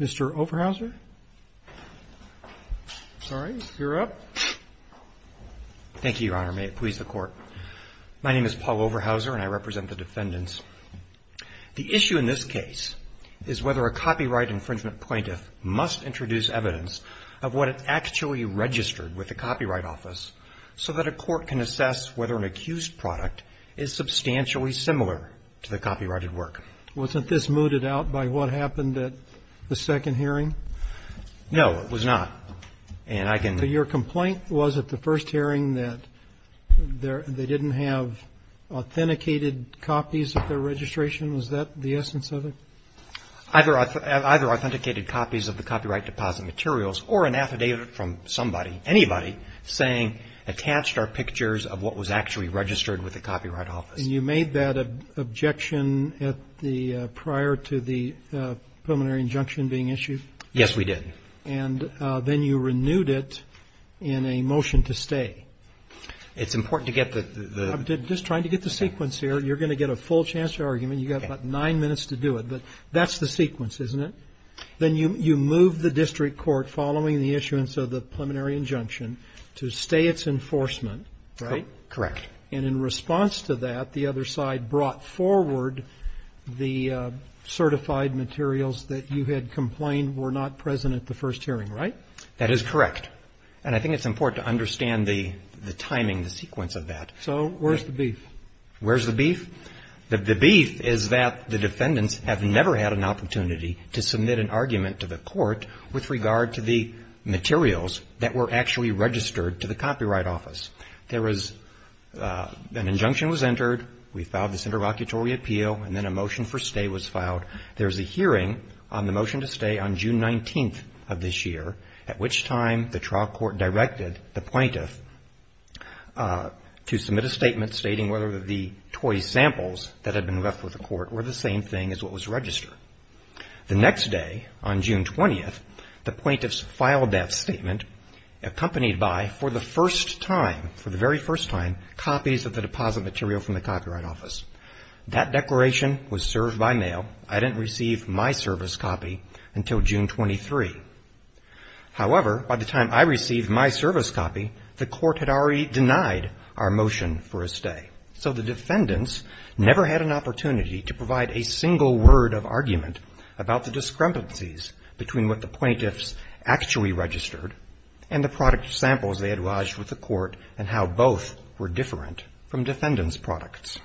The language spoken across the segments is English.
Mr. Overhauser? Sorry, you're up. Thank you, Your Honor. May it please the Court. My name is Paul Overhauser, and I represent the defendants. The issue in this case is whether a copyright infringement plaintiff must introduce evidence of what it actually registered with the Copyright Office so that a court can assess whether an accused product is substantially similar to the copyrighted work. Wasn't this mooted out by what happened at the second hearing? No, it was not. So your complaint was at the first hearing that they didn't have authenticated copies of their registration? Was that the essence of it? Either authenticated copies of the copyright deposit materials or an affidavit from somebody, anybody, saying, attached our pictures of what was actually registered with the Copyright Office. And you made that objection prior to the preliminary injunction being issued? Yes, we did. And then you renewed it in a motion to stay. It's important to get the... I'm just trying to get the sequence here. You're going to get a full chance to argument. You've got about nine minutes to do it. But that's the sequence, isn't it? Then you moved the district court, following the issuance of the preliminary injunction, to stay its enforcement, right? Correct. And in response to that, the other side brought forward the certified materials that you had complained were not present at the first hearing, right? That is correct. And I think it's important to understand the timing, the sequence of that. So where's the beef? Where's the beef? The beef is that the defendants have never had an opportunity to submit an argument to the court with regard to the materials that were actually registered to the Copyright Office. There was an injunction was entered, we filed this interlocutory appeal, and then a motion for stay was filed. There's a hearing on the motion to stay on June 19th of this year, at which time the trial court directed the plaintiff to submit a statement stating whether the toy samples that had been left with the court were the same thing as what was registered. The next day, on June 20th, the plaintiffs filed that statement accompanied by, for the first time, for the very first time, copies of the deposit material from the Copyright Office. That declaration was served by mail. I didn't receive my service copy until June 23. However, by the time I received my service copy, the court had already denied our motion for a stay. So the defendants never had an opportunity to provide a single word of argument about the discrepancies between what the plaintiffs actually registered and the product samples they had lodged with the court and how both were different from defendants' products.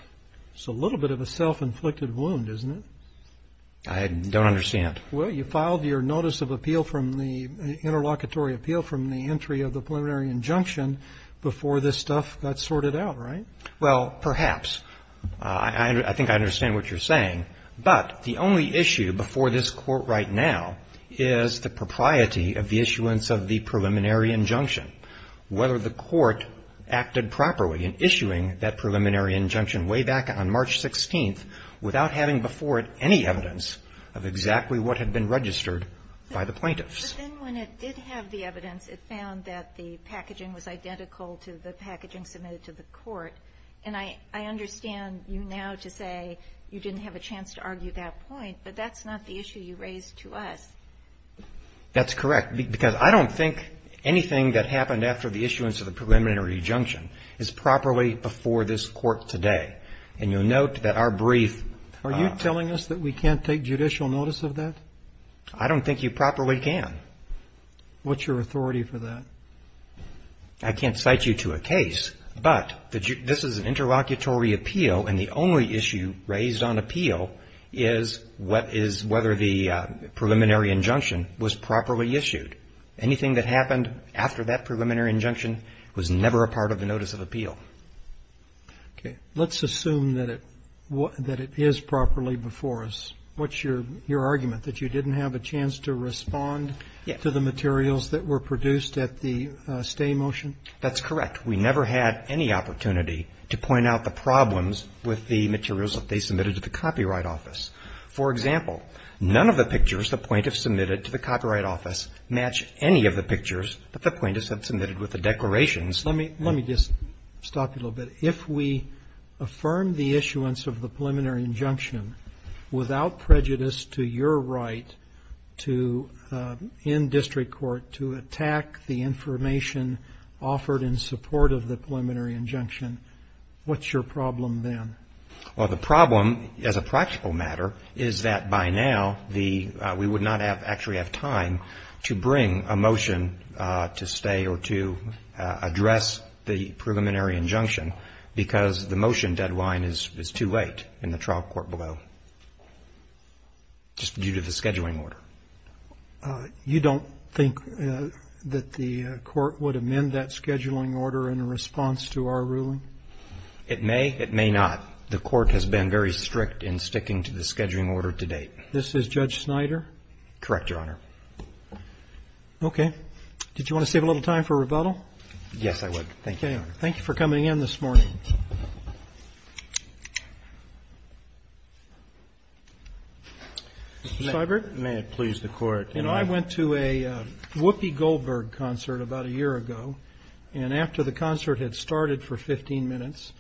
It's a little bit of a self-inflicted wound, isn't it? I don't understand. Well, perhaps. I think I understand what you're saying. But the only issue before this Court right now is the propriety of the issuance of the preliminary injunction, which was issued way back on March 16th, without having before it any evidence of exactly what had been registered by the plaintiffs. But then when it did have the evidence, it found that the packaging was identical to the packaging submitted to the court. And I understand you now to say you didn't have a chance to argue that point, but that's not the issue you raised to us. That's correct. Because I don't think anything that happened after the issuance of the preliminary injunction is properly before this Court today. I don't think that's the issue. And you'll note that our brief... Are you telling us that we can't take judicial notice of that? I don't think you properly can. What's your authority for that? I can't cite you to a case, but this is an interlocutory appeal, and the only issue raised on appeal is whether the preliminary injunction was properly issued. Anything that happened after that preliminary injunction was never a part of the notice of appeal. I assume that it is properly before us. What's your argument, that you didn't have a chance to respond to the materials that were produced at the stay motion? That's correct. We never had any opportunity to point out the problems with the materials that they submitted to the Copyright Office. For example, none of the pictures the plaintiffs submitted to the Copyright Office match any of the pictures that the plaintiffs had submitted with the declarations. Let me just stop you a little bit. If we affirm the issuance of the preliminary injunction without prejudice to your right to, in district court, to attack the information offered in support of the preliminary injunction, what's your problem then? Well, the problem, as a practical matter, is that by now, we would not actually have time to bring a motion to stay or to address the issue. We would not address the preliminary injunction because the motion deadline is too late in the trial court below, just due to the scheduling order. You don't think that the court would amend that scheduling order in response to our ruling? It may. It may not. The court has been very strict in sticking to the scheduling order to date. This is Judge Snyder? Correct, Your Honor. Okay. Did you want to save a little time for rebuttal? Yes, I would. Thank you, Your Honor. Okay. Thank you for coming in this morning. Mr. Seiberg? May it please the Court. You know, I went to a Whoopi Goldberg concert about a year ago, and after the concert had started for 15 minutes,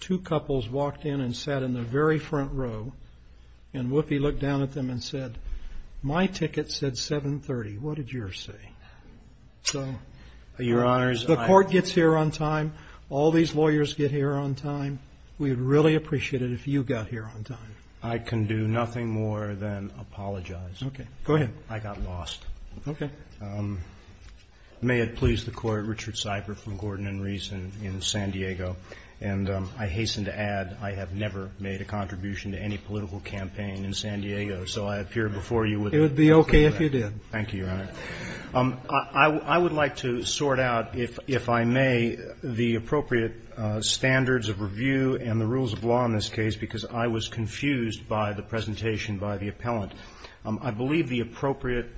two couples walked in and sat in the very front row, and Whoopi looked down at them and said, my ticket said 7.30. What did yours say? So, Your Honor, the court gets here on time. All these lawyers get here on time. We would really appreciate it if you got here on time. I can do nothing more than apologize. Okay. Go ahead. I got lost. Okay. May it please the Court. Richard Seiberg from Gordon & Reese in San Diego. And I hasten to add, I have never made a contribution to any political campaign in San Diego, so I appear before you with nothing. It would be okay if you did. Thank you, Your Honor. I would like to sort out, if I may, the appropriate standards of review and the rules of law in this case, because I was confused by the presentation by the appellant. I believe the appropriate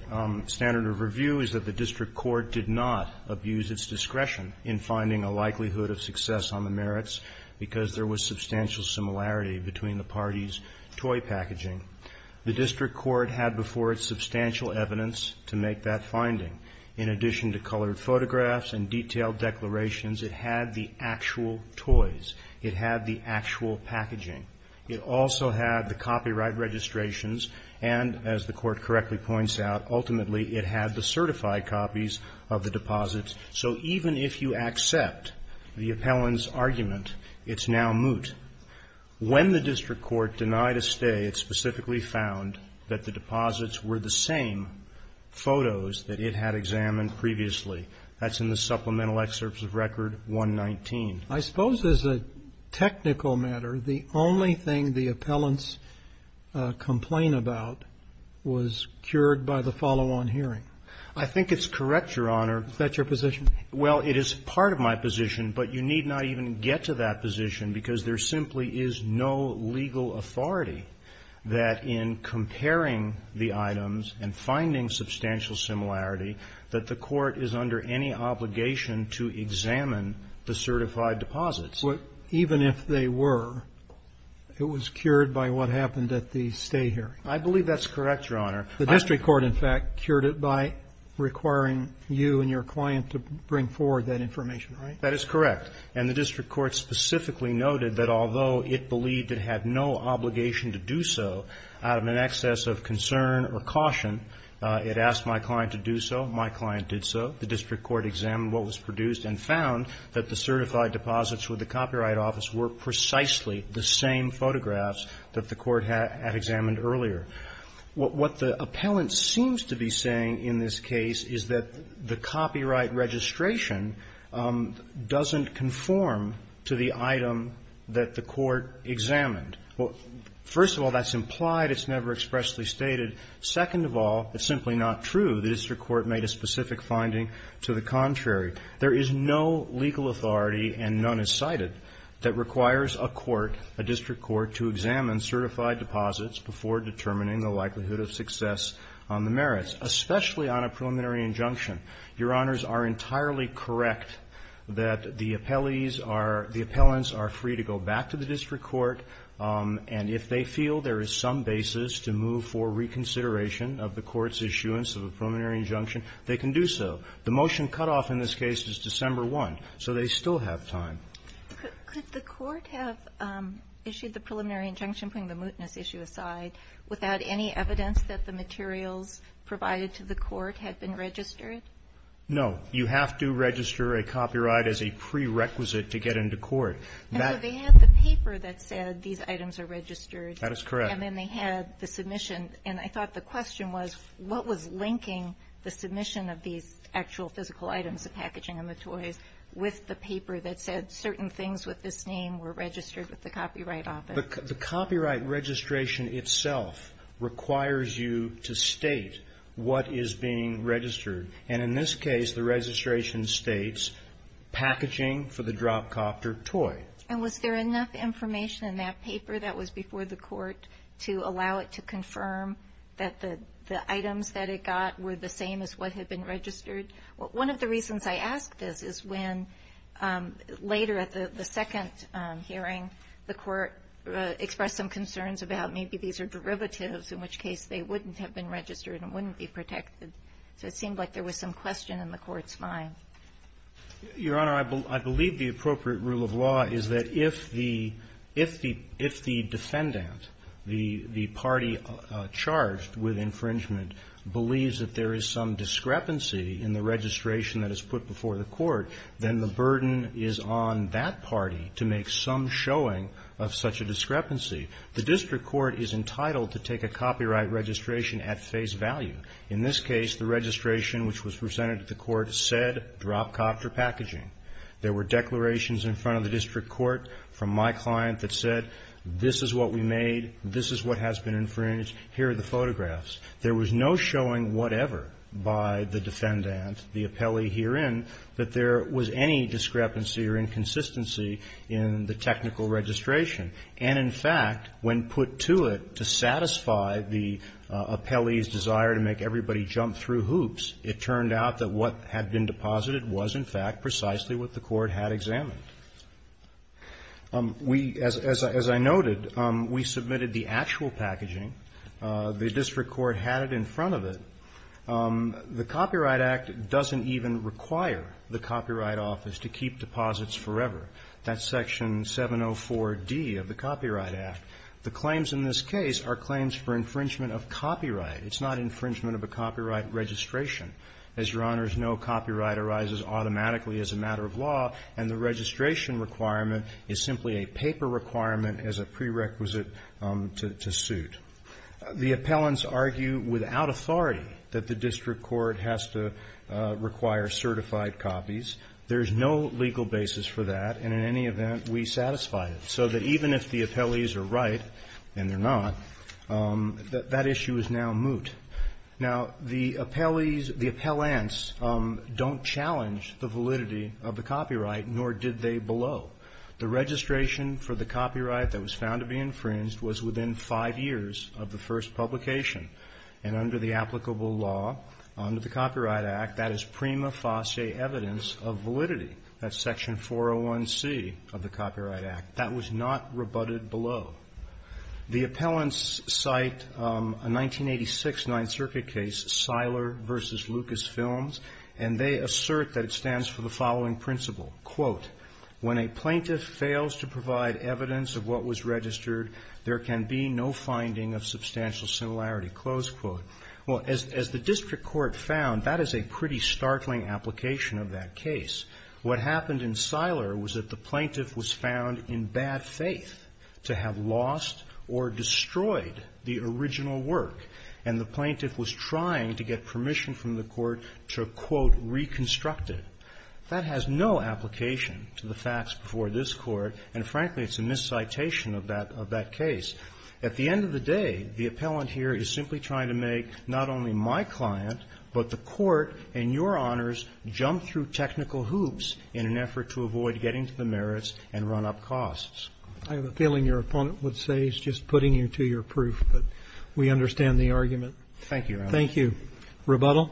standard of review is that the district court did not abuse its discretion in finding a likelihood of success on the merits, because there was substantial similarity between the parties' toy packaging. The district court had before it substantial evidence to make that finding. In addition to colored photographs and detailed declarations, it had the actual toys. It had the actual packaging. It also had the copyright registrations, and, as the court correctly points out, ultimately, it had the certified copies of the deposits. So even if you accept the appellant's argument, it's now moot. And when the district court denied a stay, it specifically found that the deposits were the same photos that it had examined previously. That's in the supplemental excerpts of Record 119. I suppose as a technical matter, the only thing the appellants complain about was cured by the follow-on hearing. I think it's correct, Your Honor. Is that your position? Well, it is part of my position, but you need not even get to that position because there simply is no legal authority that in comparing the items and finding substantial similarity that the court is under any obligation to examine the certified deposits. But even if they were, it was cured by what happened at the stay hearing. I believe that's correct, Your Honor. The district court, in fact, cured it by requiring you and your client to bring forward that information, right? That is correct. And the district court specifically noted that although it believed it had no obligation to do so, out of an excess of concern or caution, it asked my client to do so. My client did so. The district court examined what was produced and found that the certified deposits with the Copyright Office were precisely the same photographs that the court had examined earlier. What the appellant seems to be saying in this case is that the copyright registration doesn't conform to the item that the court examined. First of all, that's implied. It's never expressly stated. Second of all, it's simply not true. The district court made a specific finding to the contrary. There is no legal authority, and none is cited, that requires a court, a district court, to examine certified deposits before determining the likelihood of success on the merits, especially on a preliminary injunction. Your Honors are entirely correct that the appellees are, the appellants are free to go back to the district court, and if they feel there is some basis to move for reconsideration of the court's issuance of a preliminary injunction, they can do so. The motion cutoff in this case is December 1, so they still have time. Could the court have issued the preliminary injunction, putting the mootness issue aside, without any evidence that the materials provided to the court had been registered? No. You have to register a copyright as a prerequisite to get into court. And so they had the paper that said these items are registered. That is correct. And then they had the submission, and I thought the question was, what was linking the submission of these actual physical items, the packaging and the toys, with the paper that said certain things with this name were registered with the Copyright Office? The copyright registration itself requires you to state what is being registered. And in this case, the registration states packaging for the drop copter toy. And was there enough information in that paper that was before the court to allow it to confirm that the items that it got were the same as what had been registered? One of the reasons I ask this is when later at the second hearing, the court expressed some concerns about maybe these are derivatives, in which case they wouldn't have been registered and wouldn't be protected. So it seemed like there was some question in the court's mind. Your Honor, I believe the appropriate rule of law is that if the defendant, the party charged with infringement, believes that there is some discrepancy in the registration that is put before the court, then the burden is on that party to make some showing of such a discrepancy. The district court is entitled to take a copyright registration at face value. In this case, the registration which was presented to the court said drop copter packaging. There were declarations in front of the district court from my client that said, This is what we made. This is what has been infringed. Here are the photographs. There was no showing whatever by the defendant, the appellee herein, that there was any discrepancy or inconsistency in the technical registration. And, in fact, when put to it to satisfy the appellee's desire to make everybody jump through hoops, it turned out that what had been deposited was, in fact, precisely what the court had examined. We, as I noted, we submitted the actual packaging. The district court had it in front of it. The Copyright Act doesn't even require the Copyright Office to keep deposits forever. That's Section 704d of the Copyright Act. The claims in this case are claims for infringement of copyright. It's not infringement of a copyright registration. As Your Honors know, copyright arises automatically as a matter of law, and the registration requirement is simply a paper requirement as a prerequisite to suit. The appellants argue without authority that the district court has to require certified copies. There is no legal basis for that, and in any event, we satisfy it. So that even if the appellees are right, and they're not, that issue is now moot. Now, the appellees, the appellants don't challenge the validity of the copyright, nor did they below. The registration for the copyright that was found to be infringed was within five years of the first publication, and under the applicable law, under the Copyright Act, that is prima facie evidence of validity. That's Section 401c of the Copyright Act. That was not rebutted below. The appellants cite a 1986 Ninth Circuit case, Seiler v. Lucas Films, and they assert that it stands for the following principle, quote, when a plaintiff fails to provide evidence of what was registered, there can be no finding of substantial similarity, close quote. Well, as the district court found, that is a pretty startling application of that case. What happened in Seiler was that the plaintiff was found in bad faith to have lost or destroyed the original work, and the plaintiff was trying to get permission from the court to, quote, reconstruct it. That has no application to the facts before this Court, and frankly, it's a miscitation of that case. At the end of the day, the appellant here is simply trying to make not only my client, but the Court and Your Honors jump through technical hoops in an effort to avoid getting to the merits and run up costs. I have a feeling your opponent would say he's just putting you to your proof, but we understand the argument. Thank you, Your Honor. Thank you. Rebuttal?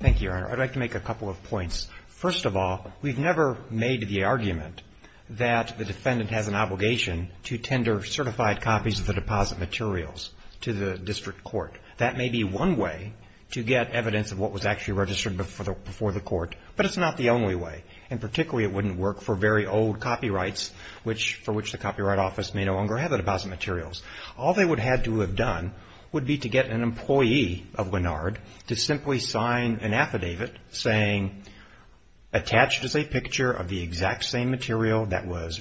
Thank you, Your Honor. I'd like to make a couple of points. First of all, we've never made the argument that the defendant has an obligation to tender certified copies of the deposit materials to the district court. That may be one way to get evidence of what was actually registered before the court, but it's not the only way, and particularly it wouldn't work for very old copyrights, for which the Copyright Office may no longer have the deposit materials. All they would have to have done would be to get an employee of Lennard to simply sign an affidavit saying, attached is a picture of the exact same material that was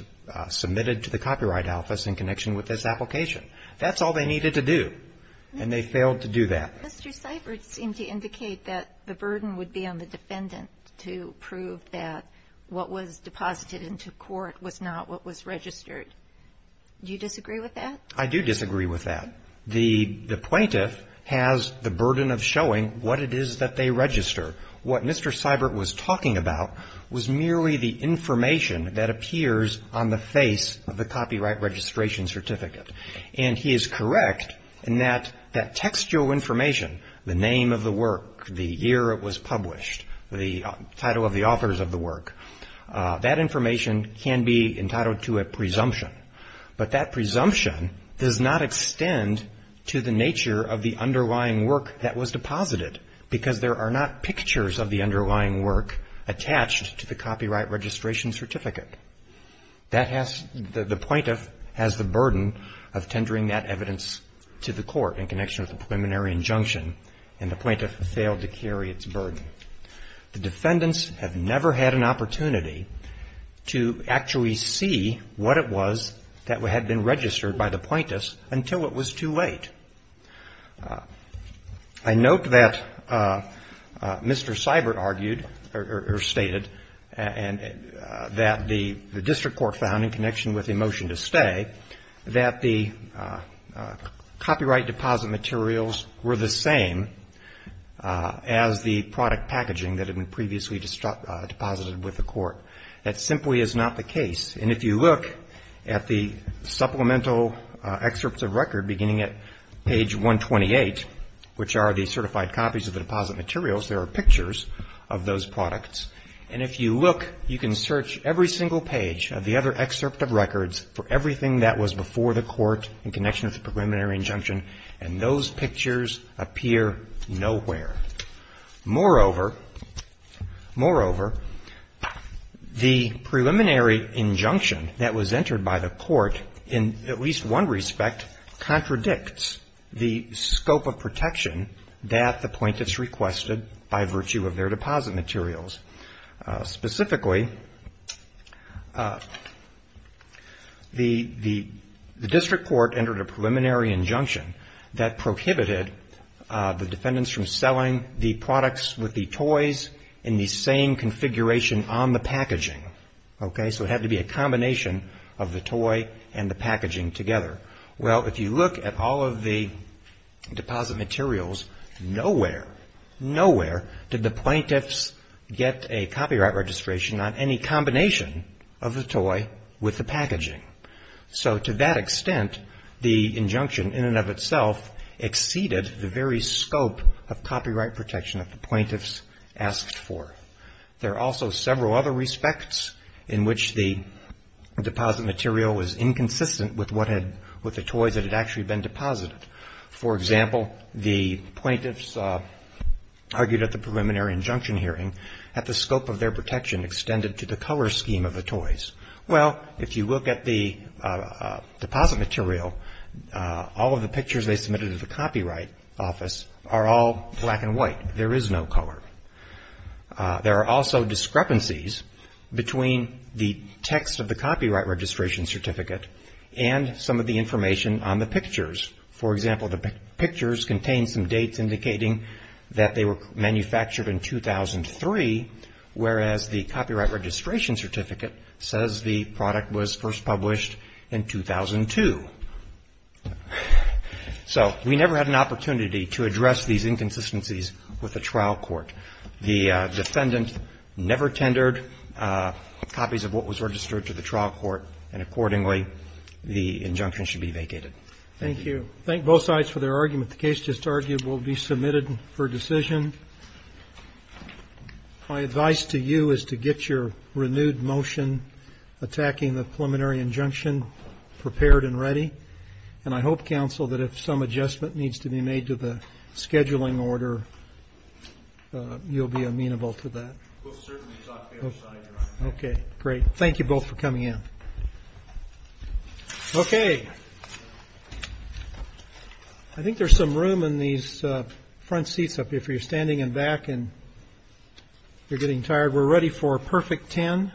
submitted to the Copyright Office in connection with this application. That's all they needed to do, and they failed to do that. Mr. Seifert seemed to indicate that the burden would be on the defendant to prove that what was deposited into court was not what was registered. Do you disagree with that? I do disagree with that. The plaintiff has the burden of showing what it is that they register. What Mr. Seifert was talking about was merely the information that appears on the face of the copyright registration certificate, and he is correct in that that textual information, the name of the work, the year it was published, the title of the authors of the work, that information can be entitled to a presumption. But that presumption does not extend to the nature of the underlying work that was deposited, because there are not pictures of the underlying work attached to the copyright registration certificate. The plaintiff has the burden of tendering that evidence to the court in connection with a preliminary injunction, and the plaintiff failed to carry its burden. The defendants have never had an opportunity to actually see what it was that had been registered by the plaintiffs until it was too late. I note that Mr. Seifert argued or stated that the district court found, in connection with the motion to stay, that the copyright deposit materials were the same as the product packaging that had been previously deposited with the court. That simply is not the case, and if you look at the supplemental excerpts of record beginning at page 128, which are the certified copies of the deposit materials, there are pictures of those products. And if you look, you can search every single page of the other excerpt of records for everything that was before the court in connection with the preliminary injunction, and those pictures appear nowhere. Moreover, the preliminary injunction that was entered by the court, in at least one respect, contradicts the scope of protection that the plaintiffs requested by virtue of their deposit materials. Specifically, the district court entered a preliminary injunction that prohibited the defendants from selling the products with the toys in the same configuration on the packaging. Okay, so it had to be a combination of the toy and the packaging together. Well, if you look at all of the deposit materials, nowhere, nowhere did the plaintiffs get a copyright registration on any combination of the toy with the packaging. So to that extent, the injunction in and of itself exceeded the very scope of copyright protection that the plaintiffs asked for. There are also several other respects in which the deposit material was inconsistent with what had, with the toys that had actually been deposited. For example, the plaintiffs argued at the preliminary injunction hearing that the scope of their protection extended to the color scheme of the toys. Well, if you look at the deposit material, all of the pictures they submitted to the Copyright Office are all black and white. There is no color. There are also discrepancies between the text of the copyright registration certificate and some of the information on the pictures. For example, the pictures contain some dates indicating that they were manufactured in 2003, whereas the copyright registration certificate says the product was first published in 2002. So we never had an opportunity to address these inconsistencies with the trial court. The defendant never tendered copies of what was registered to the trial court, and accordingly, the injunction should be vacated. Thank you. I thank both sides for their argument. The case just argued will be submitted for decision. My advice to you is to get your renewed motion attacking the preliminary injunction prepared and ready. And I hope, counsel, that if some adjustment needs to be made to the scheduling order, you'll be amenable to that. Okay, great. Thank you both for coming in. Okay, I think there's some room in these front seats up if you're standing in back and you're getting tired. We're ready for perfect 10.